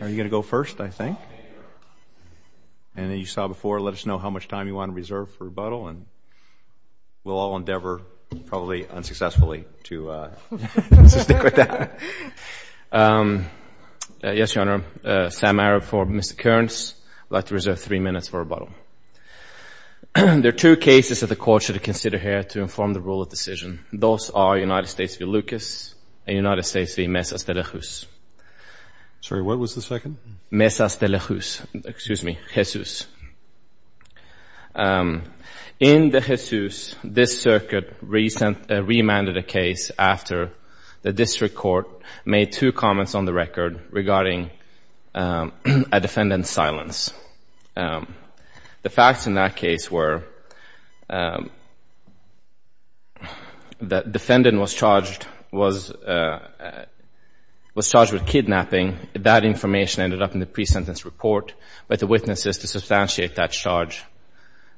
Are you gonna go first, I think? And then you saw before, let us know how much time you want to reserve for rebuttal, and we'll all endeavor, probably unsuccessfully, to stick with that. Yes, Your Honor. Sam Arab for Mr. Kurns. I'd like to reserve three minutes for rebuttal. There are two cases that the Court should consider here to inform the rule of decision. Those are United States v. Lucas and United States v. Mesas de la Juz. Sorry, what was the second? Mesas de la Juz. Excuse me, Jesus. In the Jesus, this circuit remanded a case after the District Court made two comments on the record regarding a defendant's silence. The facts in that case were that defendant was charged with kidnapping. That information ended up in the pre-sentence report, but the witnesses to substantiate that charge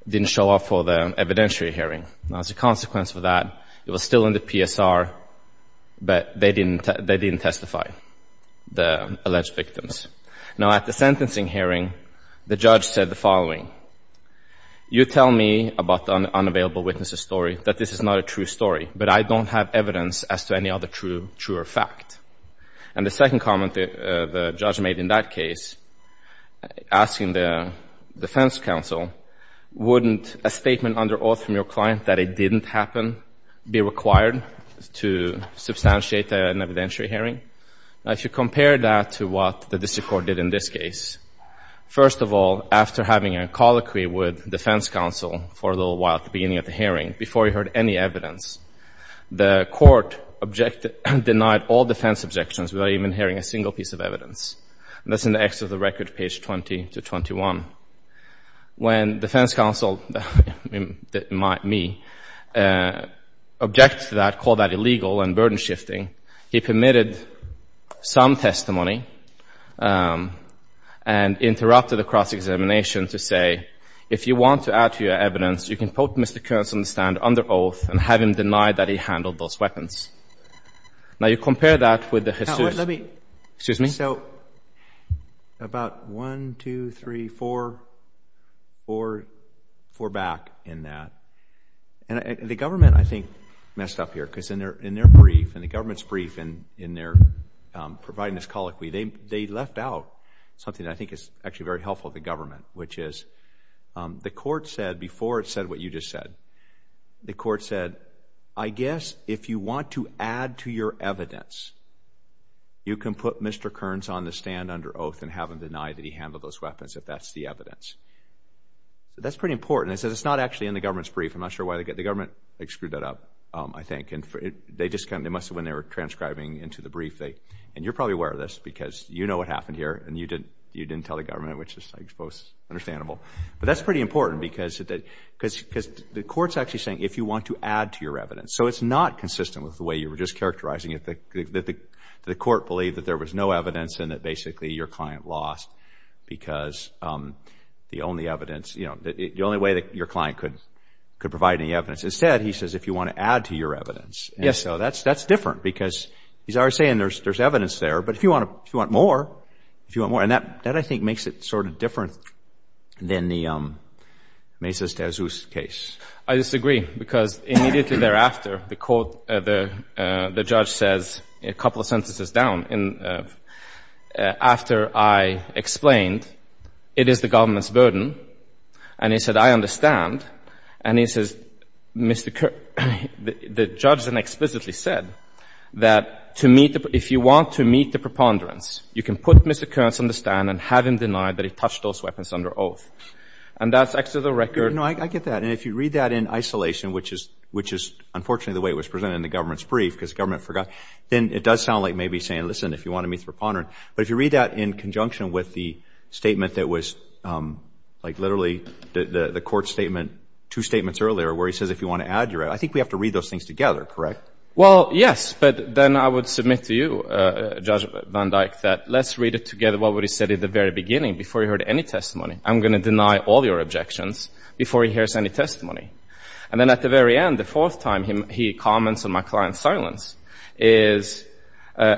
didn't show up for the evidentiary hearing. As a consequence of that, it was still in the PSR, but they didn't testify, the alleged victims. Now, at the sentencing hearing, the judge said the following. You tell me about the unavailable witnesses' story, that this is not a true story, but I don't have evidence as to any other truer fact. And the second comment the judge made in that case, asking the defense counsel, wouldn't a statement under oath from your client that it didn't happen be required to substantiate an evidentiary hearing? Now, if you compare that to what the District Court did in this case, first of all, after having a colloquy with defense counsel for a little while at the beginning of the hearing, before he heard any evidence, the court denied all defense objections without even hearing a single piece of evidence. And that's in the X of the record, page 20 to 21. When defense counsel, me, objected to that, called that illegal and burden-shifting, he permitted some testimony and interrupted the cross-examination to say, if you want to add to your evidence, you can put Mr. Kearns on the stand under oath and have him deny that he handled those weapons. Now, you compare that with the pursuit. Let me, excuse me, so about one, two, three, four, four back in that. And the government, I think, messed up here because in their brief, in the government's brief, in their providing this colloquy, they left out something that I think is actually very helpful to the government, which is the court said, before it said what you just said, the court said, I guess if you want to add to your evidence, you can put Mr. Kearns on the stand under oath and have him deny that he handled those weapons, if that's the evidence. That's pretty important. It says it's not actually in the government's brief. I'm not sure why they get, the government screwed that up, I think. And they just kind of, they must have, when they were transcribing into the brief, they, and you're probably aware of this because you know what happened here, and you didn't tell the government, which is, I suppose, understandable. But that's pretty important because the court's actually saying, if you want to add to your evidence. So it's not consistent with the way you were just characterizing it, that the court believed that there was no evidence and that basically your client lost because the only evidence, you know, the only way that your client could provide any evidence. Instead, he says, if you want to add to your evidence. And so that's different because he's already saying there's evidence there, but if you want more, if you want more. And that, I think, makes it sort of different than the Mesas de Azuz case. I disagree because immediately thereafter, the court, the judge says, a couple of sentences down, after I explained it is the government's burden, and he said, I understand. And he says, Mr. Kerr, the judge then explicitly said that to meet, if you want to meet the preponderance, you can put Mr. Kerr on the stand and have him deny that he touched those weapons under oath. And that's actually the record. No, I get that. And if you read that in isolation, which is unfortunately the way it was presented in the government's brief because the government forgot, then it does sound like maybe saying, listen, if you want to meet the preponderance. But if you read that in conjunction with the statement that was like literally the court's statement, two statements earlier where he says, if you want to add to your evidence, I think we have to read those things together, correct? Well, yes. But then I would submit to you, Judge Van Dyck, that let's read it together, what he said at the very beginning before he heard any testimony. I'm going to deny all your objections before he hears any testimony. And then at the very end, the fourth time he comments on my client's silence is,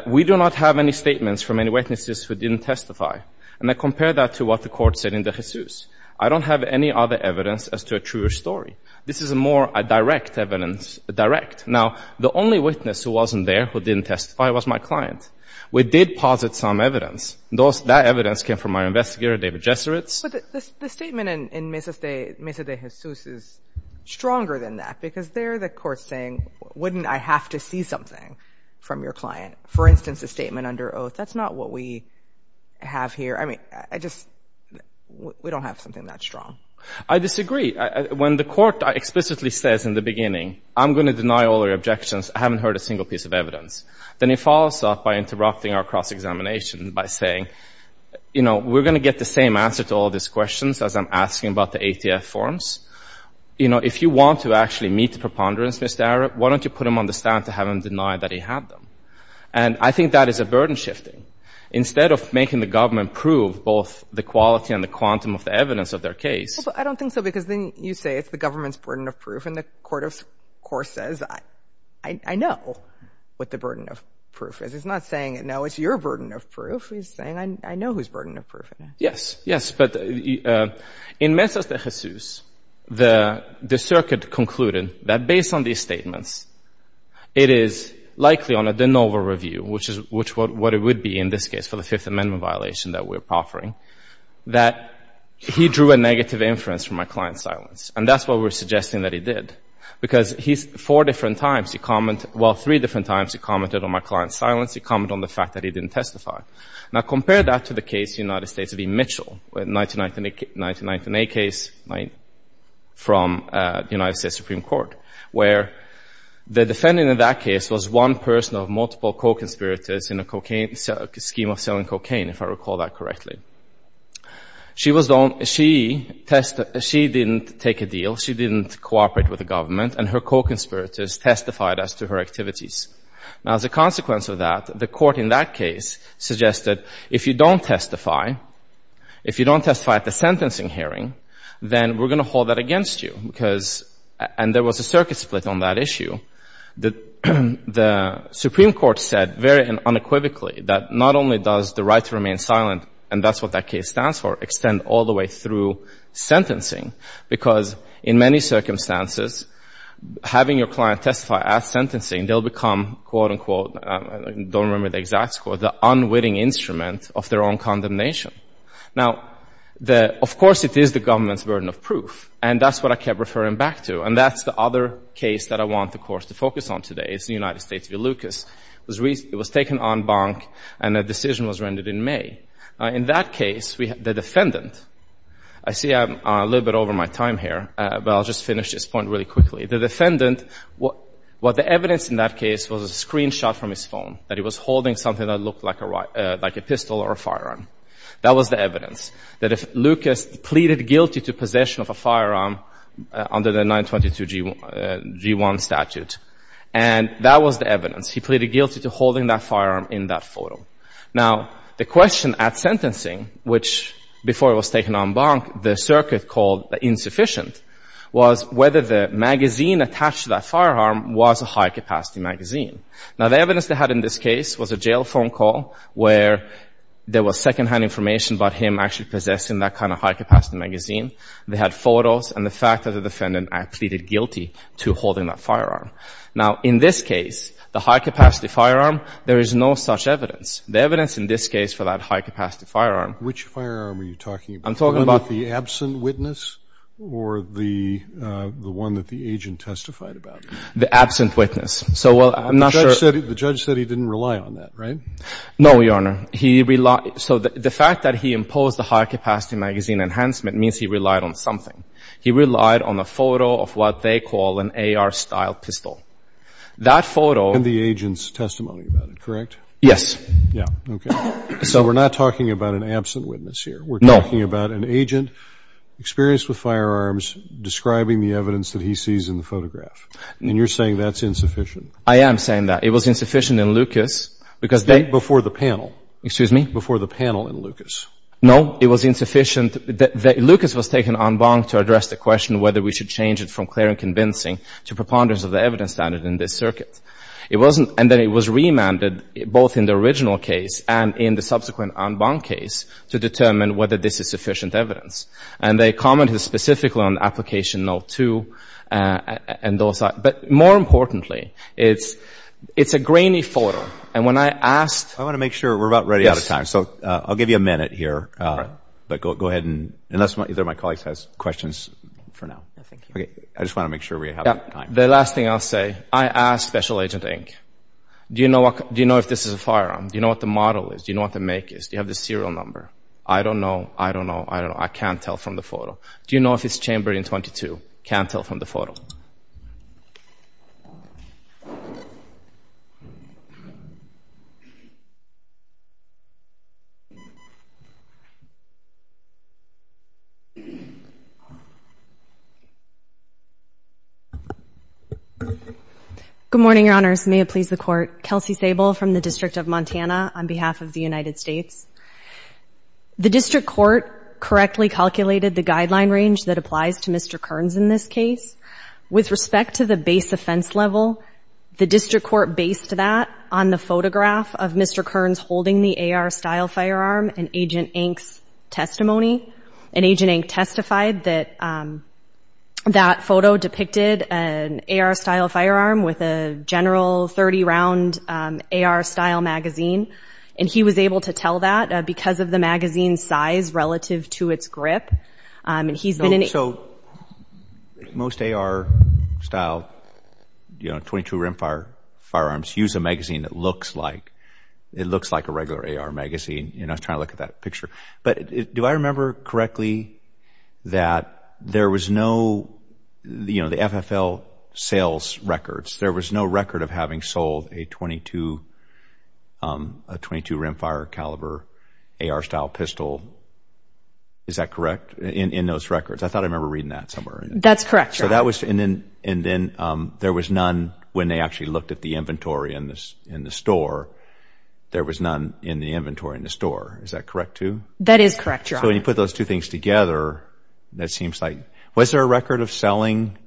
we do not have any statements from any witnesses who didn't testify. And I compare that to what the court said in the Jesus. I don't have any other evidence as to a truer story. This is a more direct evidence, direct. Now, the only witness who wasn't there, who didn't testify, was my client. We did posit some evidence. That evidence came from my investigator, David Jeseritz. But the statement in Mesa de Jesus is stronger than that because there the court's saying, wouldn't I have to see something from your client? For instance, a statement under oath, that's not what we have here. I mean, I just, we don't have something that strong. I disagree. When the court explicitly says in the beginning, I'm going to deny all your objections, I haven't heard a single piece of evidence, then it follows up by interrupting our cross-examination by saying, you know, we're going to get the same answer to all these questions as I'm asking about the ATF forms. You know, if you want to actually meet the preponderance, Mr. Arup, why don't you put him on the stand to have him deny that he had them? And I think that is a burden shifting. Instead of making the government prove both the quality and the quantum of the evidence of their case. Well, I don't think so because then you say it's the government's burden of proof and the court, of course, says, I know what the burden of proof is. It's not saying, no, it's your burden of proof. It's saying, I know whose burden of proof it is. Yes, yes. But in Mesa de Jesus, the circuit concluded that based on these statements, it is likely on a de novo review, which is what it would be in this case for the Fifth Amendment violation that we're proffering, that he drew a negative inference from my client's silence. And that's what we're suggesting that he did. Because four different times he commented, well, three different times he commented on my client's silence. He commented on the fact that he didn't testify. Now, compare that to the case in the United States of E. Mitchell, a 1998 case from the United States Supreme Court, where the defendant in that case was one person of multiple co-conspirators in a scheme of selling cocaine, if I recall that correctly. She didn't take a deal. She didn't cooperate with the government. And her co-conspirators testified as to her activities. Now, as a consequence of that, the court in that case suggested, if you don't testify, if you don't testify at the sentencing hearing, then we're going to hold that against you. And there was a circuit split on that issue. The Supreme Court said very unequivocally that not only does the right to remain silent, and that's what that case stands for, extend all the way through sentencing, because in many circumstances, having your client testify at sentencing, they'll become, quote, unquote, I don't remember the exact score, the unwitting instrument of their own condemnation. Now, of course it is the government's burden of proof. And that's what I kept referring back to. And that's the other case that I want the court to focus on today. It's the United States v. Lucas. It was taken en banc, and a decision was rendered in May. In that case, the defendant, I see I'm a little bit over my time here, but I'll just finish this point really quickly. The defendant, what the evidence in that case was a screenshot from his phone, that he was holding something that looked like a pistol or a firearm. That was the evidence, that if Lucas pleaded guilty to possession of a firearm under the 922G1 statute, and that was the evidence. He pleaded guilty to holding that firearm in that photo. Now, the question at sentencing, which before it was taken en banc, the circuit called insufficient, was whether the magazine attached to that firearm was a high-capacity magazine. Now, the evidence they had in this case was a jail phone call where there was second-hand information about him actually possessing that kind of high-capacity magazine. They had photos and the fact that the defendant pleaded guilty to holding that firearm. Now, in this case, the high-capacity firearm, there is no such evidence. The evidence in this case for that high-capacity firearm. Which firearm are you talking about? I'm talking about the absent witness or the one that the agent testified about? The absent witness. So while I'm not sure. The judge said he didn't rely on that, right? No, Your Honor. He relied. So the fact that he imposed the high-capacity magazine enhancement means he relied on something. He relied on a photo of what they call an AR-style pistol. That photo. And the agent's testimony about it, correct? Yes. Yeah. Okay. So we're not talking about an absent witness here. No. We're talking about an agent experienced with firearms describing the evidence that he sees in the photograph. And you're saying that's insufficient. I am saying that. It was insufficient in Lucas. Before the panel. Excuse me? Before the panel in Lucas. No. It was insufficient. Lucas was taken en banc to address the question whether we should change it from clear and convincing to preponderance of the evidence standard in this circuit. It wasn't. And then it was remanded, both in the original case and in the subsequent en banc case, to determine whether this is sufficient evidence. And they commented specifically on application no. 2 and those. But more importantly, it's a grainy photo. And when I asked... I want to make sure. We're about ready out of time. Yes. So I'll give you a minute here. All right. But go ahead and... Unless either of my colleagues has questions for now. No, thank you. Okay. I just want to make sure we have time. The last thing I'll say, I asked Special Agent Inc., do you know if this is a firearm? Do you know what the model is? Do you know what the make is? Do you have the serial number? I don't know. I don't know. I don't know. I can't tell from the photo. Do you know if it's chambered in 22? I can't tell from the photo. Good morning, Your Honors. May it please the Court. Kelsey Sable from the District of Montana on behalf of the United States. The District Court correctly calculated the guideline range that applies to Mr. Kearns in this case. With respect to the base offense level, the District Court based that on the photograph of Mr. Kearns holding the AR-style firearm in Agent Inc.'s testimony. And Agent Inc. testified that that photo depicted an AR-style firearm with a general 30-round AR-style magazine. And he was able to tell that because of the magazine's size relative to its grip. So most AR-style, you know, 22-round firearms use a magazine that looks like a regular AR magazine. I was trying to look at that picture. But do I remember correctly that there was no, you know, the FFL sales records, there was no record of having sold a 22 rimfire caliber AR-style pistol, is that correct, in those records? I thought I remember reading that somewhere. That's correct, Your Honor. And then there was none when they actually looked at the inventory in the store. There was none in the inventory in the store. Is that correct too? That is correct, Your Honor. So when you put those two things together, that seems like, was there a record of selling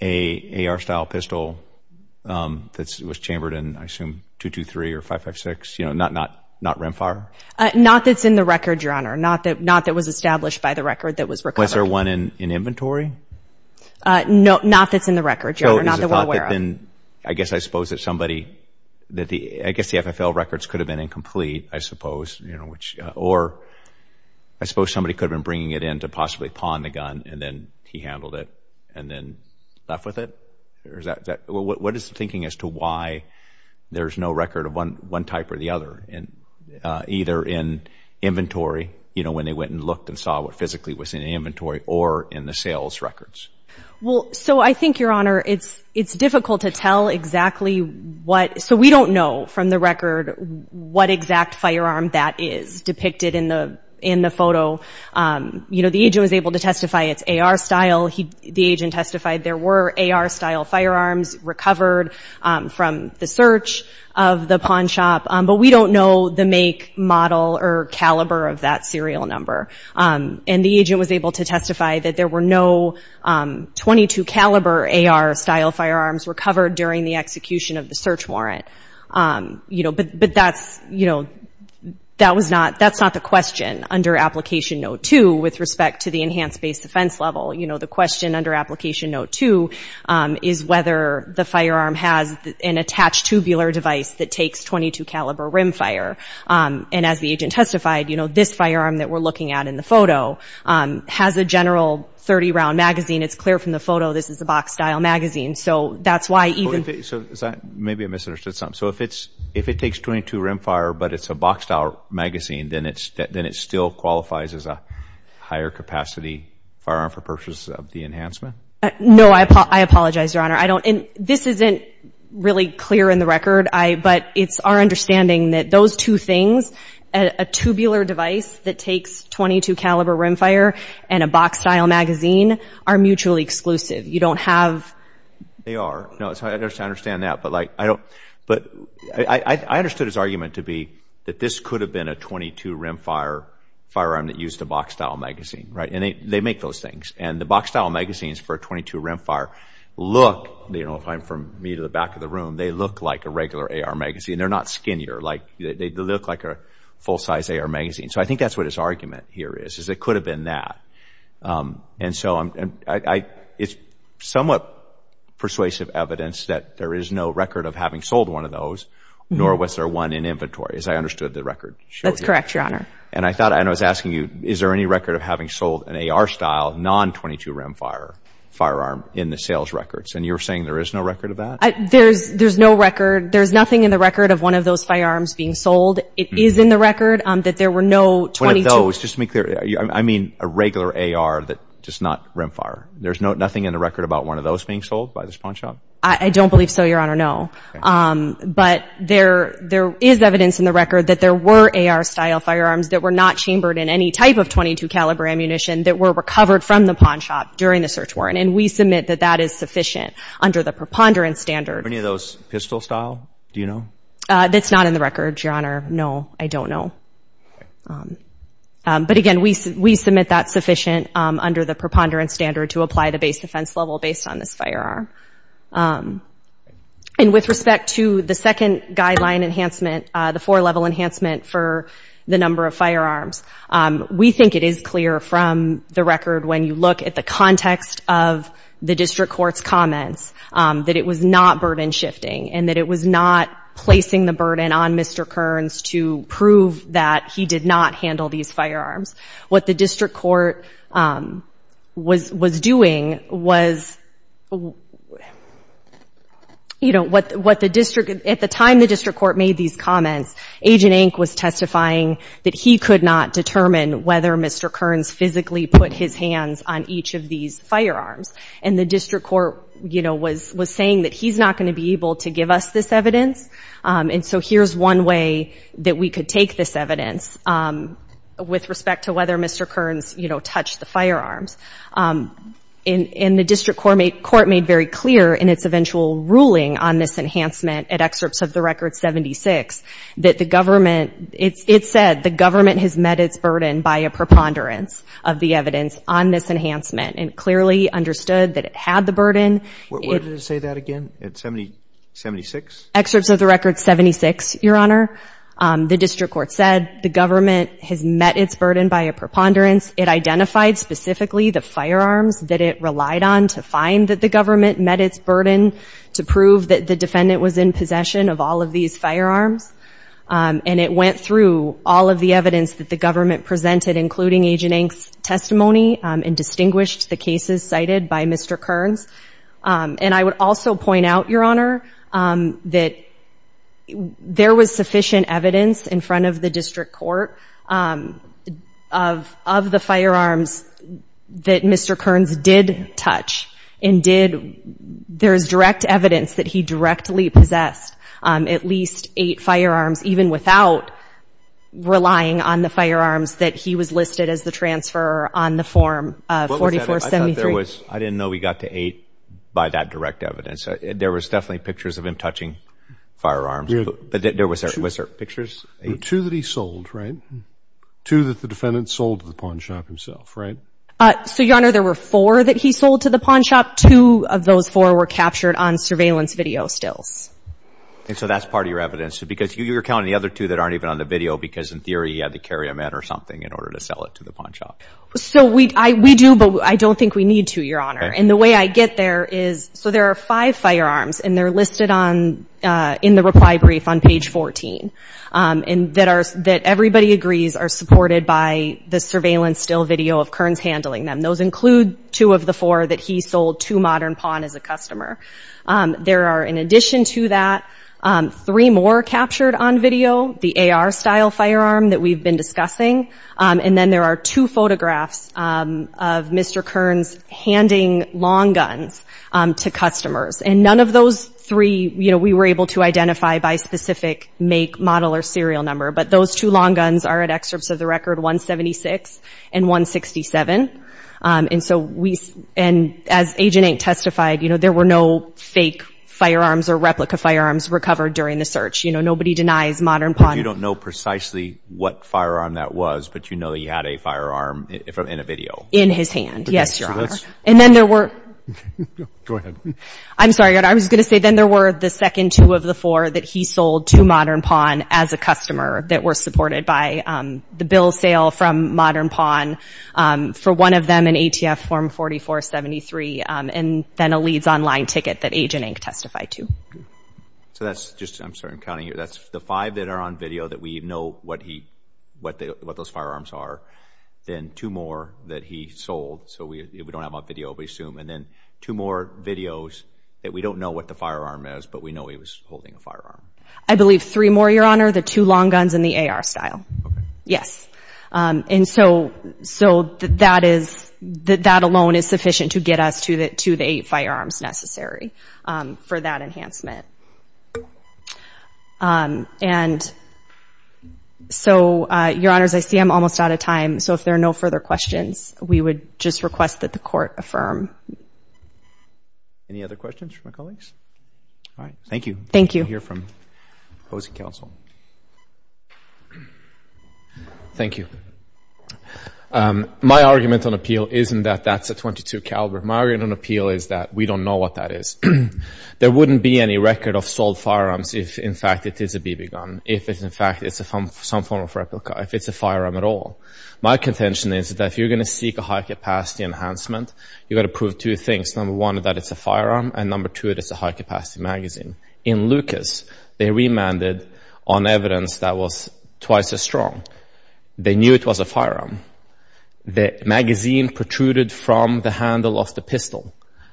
an AR-style pistol that was chambered in, I assume, .223 or .556, you know, not rimfire? Not that's in the record, Your Honor. Not that was established by the record that was recovered. Was there one in inventory? No, not that's in the record, Your Honor. Not that we're aware of. I guess I suppose that somebody, I guess the FFL records could have been incomplete, I suppose, you know, or I suppose somebody could have been bringing it in to possibly pawn the gun and then he handled it and then left with it? What is the thinking as to why there's no record of one type or the other, either in inventory, you know, when they went and looked and saw what physically was in the inventory, or in the sales records? Well, so I think, Your Honor, it's difficult to tell exactly what, so we don't know from the record what exact firearm that is depicted in the photo. You know, the agent was able to testify it's AR style. The agent testified there were AR style firearms recovered from the search of the pawn shop, but we don't know the make, model, or caliber of that serial number. And the agent was able to testify that there were no .22 caliber AR style firearms recovered during the execution of the search warrant. You know, but that's, you know, that was not, that's not the question under Application Note 2 with respect to the enhanced base defense level. You know, the question under Application Note 2 is whether the firearm has an attached tubular device that takes .22 caliber rimfire. And as the agent testified, you know, this firearm that we're looking at in the photo has a general 30-round magazine. It's clear from the photo this is a box-style magazine. So that's why even... So is that, maybe I misunderstood something. So if it takes .22 rimfire but it's a box-style magazine, then it still qualifies as a higher capacity firearm for purposes of the enhancement? No, I apologize, Your Honor. I don't, and this isn't really clear in the record, but it's our understanding that those two things, a tubular device that takes .22 caliber rimfire and a box-style magazine, are mutually exclusive. You don't have... They are. No, I understand that, but, like, I don't, but I understood his argument to be that this could have been a .22 rimfire firearm that used a box-style magazine, right? And they make those things. And the box-style magazines for .22 rimfire look, you know, if I'm from me to the back of the room, they look like a regular AR magazine. They're not skinnier. Like, they look like a full-size AR magazine. So I think that's what his argument here is, is it could have been that. And so it's somewhat persuasive evidence that there is no record of having sold one of those, nor was there one in inventory, as I understood the record showed you. That's correct, Your Honor. And I thought, and I was asking you, is there any record of having sold an AR-style non .22 rimfire firearm in the sales records? And you're saying there is no record of that? There's no record. There's nothing in the record of one of those firearms being sold. It is in the record that there were no .22... No, just to be clear, I mean a regular AR, just not rimfire. There's nothing in the record about one of those being sold by this pawn shop? I don't believe so, Your Honor, no. But there is evidence in the record that there were AR-style firearms that were not chambered in any type of .22 caliber ammunition that were recovered from the pawn shop during the search warrant. And we submit that that is sufficient under the preponderance standard. Are any of those pistol-style? Do you know? That's not in the record, Your Honor. No, I don't know. But again, we submit that's sufficient under the preponderance standard to apply the base defense level based on this firearm. And with respect to the second guideline enhancement, the four-level enhancement for the number of firearms, we think it is clear from the record when you look at the context of the district court's comments that it was not burden-shifting and that it was not placing the burden on Mr. Kearns to prove that he did not handle these firearms. What the district court was doing was, you know, at the time the district court made these comments, Agent Ink was testifying that he could not determine whether Mr. Kearns physically put his hands on each of these firearms. And the district court, you know, was saying that he's not going to be able to give us this evidence, and so here's one way that we could take this evidence with respect to whether Mr. Kearns, you know, touched the firearms. And the district court made very clear in its eventual ruling on this enhancement at excerpts of the Record 76 that the government, it said the government has met its burden by a preponderance of the evidence on this enhancement and clearly understood that it had the burden. Where did it say that again? At 76? Excerpts of the Record 76, Your Honor. The district court said the government has met its burden by a preponderance. It identified specifically the firearms that it relied on to find that the government met its burden to prove that the defendant was in possession of all of these firearms. And it went through all of the evidence that the government presented, including Agent Ink's testimony and distinguished the cases cited by Mr. Kearns. And I would also point out, Your Honor, that there was sufficient evidence in front of the district court of the firearms that Mr. Kearns did touch and did, there's direct evidence that he directly possessed at least eight firearms, even without relying on the firearms that he was listed as the transfer on the form of 4473. I didn't know we got to eight by that direct evidence. There was definitely pictures of him touching firearms. But was there pictures? Two that he sold, right? Two that the defendant sold to the pawn shop himself, right? So, Your Honor, there were four that he sold to the pawn shop. Two of those four were captured on surveillance video stills. And so that's part of your evidence, because you're counting the other two that aren't even on the video because in theory he had to carry them out or something in order to sell it to the pawn shop. So we do, but I don't think we need to, Your Honor. And the way I get there is, so there are five firearms, and they're listed in the reply brief on page 14, and that everybody agrees are supported by the surveillance still video of Kearns handling them. Those include two of the four that he sold to Modern Pawn as a customer. There are, in addition to that, three more captured on video, the AR-style firearm that we've been discussing. And then there are two photographs of Mr. Kearns handing long guns to customers. And none of those three we were able to identify by specific make, model, or serial number. But those two long guns are at excerpts of the record 176 and 167. And so we, and as Agent 8 testified, there were no fake firearms or replica firearms recovered during the search. You know, nobody denies Modern Pawn. But you don't know precisely what firearm that was, but you know he had a firearm in a video. In his hand, yes, Your Honor. And then there were. Go ahead. I'm sorry, I was going to say then there were the second two of the four that he sold to Modern Pawn as a customer that were supported by the bill sale from Modern Pawn for one of them an ATF Form 4473, and then a Leeds online ticket that Agent 8 testified to. So that's just, I'm sorry, I'm counting here. That's the five that are on video that we know what he, what those firearms are. Then two more that he sold, so we don't have a video, we assume. And then two more videos that we don't know what the firearm is, but we know he was holding a firearm. I believe three more, Your Honor, the two long guns and the AR style. Okay. Yes. And so that is, that alone is sufficient to get us to the eight firearms necessary for that enhancement. And so, Your Honors, I see I'm almost out of time, so if there are no further questions, we would just request that the Court affirm. Any other questions from my colleagues? All right, thank you. Thank you. We'll hear from opposing counsel. Thank you. My argument on appeal isn't that that's a .22 caliber. My argument on appeal is that we don't know what that is. There wouldn't be any record of sold firearms if, in fact, it is a BB gun, if, in fact, it's some form of replica, if it's a firearm at all. My contention is that if you're going to seek a high-capacity enhancement, you've got to prove two things, number one, that it's a firearm, and number two, that it's a high-capacity magazine. In Lucas, they remanded on evidence that was twice as strong. They knew it was a firearm. The magazine protruded from the handle of the pistol.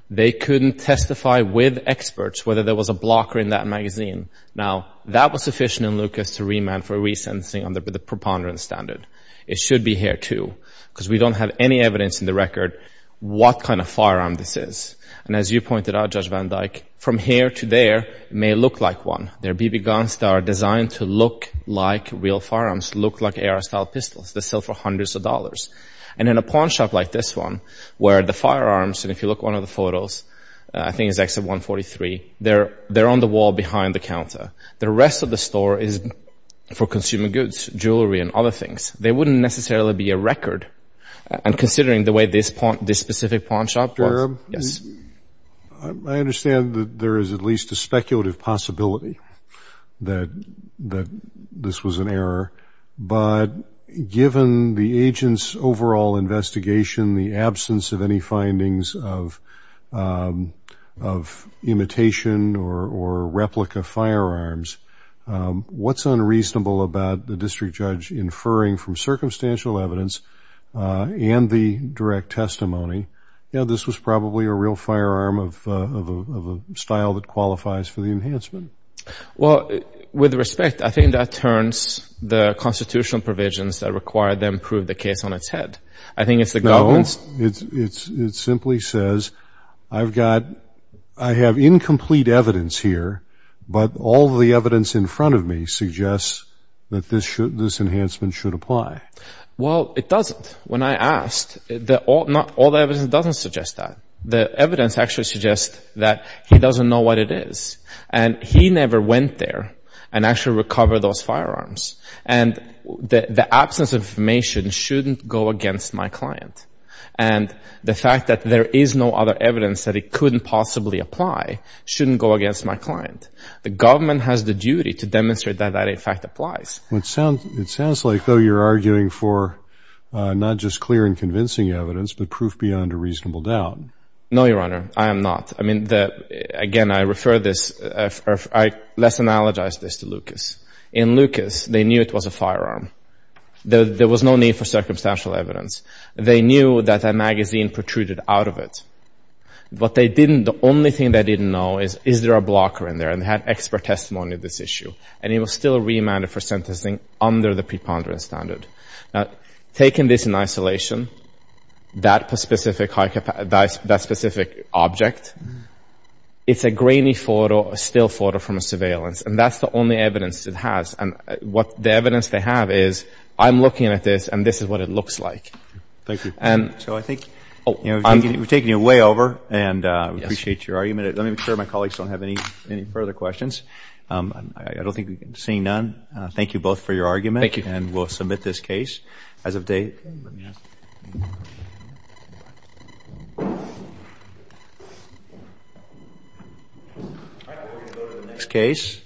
They couldn't testify with experts whether there was a blocker in that magazine. Now, that was sufficient in Lucas to remand for resensing under the preponderance standard. It should be here, too, because we don't have any evidence in the record what kind of firearm this is. And as you pointed out, Judge Van Dyke, from here to there, it may look like one. There are BB guns that are designed to look like real firearms, look like AR-style pistols. They sell for hundreds of dollars. And in a pawn shop like this one, where the firearms, and if you look at one of the photos, I think it's XF-143, they're on the wall behind the counter. The rest of the store is for consuming goods, jewelry and other things. There wouldn't necessarily be a record, and considering the way this specific pawn shop was. I understand that there is at least a speculative possibility that this was an error. But given the agent's overall investigation, the absence of any findings of imitation or replica firearms, what's unreasonable about the district judge inferring from circumstantial evidence and the direct testimony, you know, this was probably a real firearm of a style that qualifies for the enhancement. Well, with respect, I think that turns the constitutional provisions that require them prove the case on its head. I think it's the government's. No, it simply says, I have incomplete evidence here, but all the evidence in front of me suggests that this enhancement should apply. Well, it doesn't. When I asked, all the evidence doesn't suggest that. The evidence actually suggests that he doesn't know what it is. And he never went there and actually recovered those firearms. And the absence of information shouldn't go against my client. And the fact that there is no other evidence that it couldn't possibly apply shouldn't go against my client. The government has the duty to demonstrate that that, in fact, applies. It sounds like, though, you're arguing for not just clear and convincing evidence, but proof beyond a reasonable doubt. No, Your Honor. I am not. I mean, again, I refer this, or I less analogize this to Lucas. In Lucas, they knew it was a firearm. There was no need for circumstantial evidence. They knew that a magazine protruded out of it. But they didn't, the only thing they didn't know is, is there a blocker in there? And they had expert testimony of this issue. And it was still remanded for sentencing under the preponderance standard. Now, taking this in isolation, that specific object, it's a grainy photo, a still photo from a surveillance. And that's the only evidence it has. And the evidence they have is, I'm looking at this, and this is what it looks like. Thank you. So I think, you know, we've taken you way over, and we appreciate your argument. Let me make sure my colleagues don't have any further questions. I don't think we've seen none. Thank you both for your argument. Thank you. And we'll submit this case as of date. All right, we're going to go to the next case.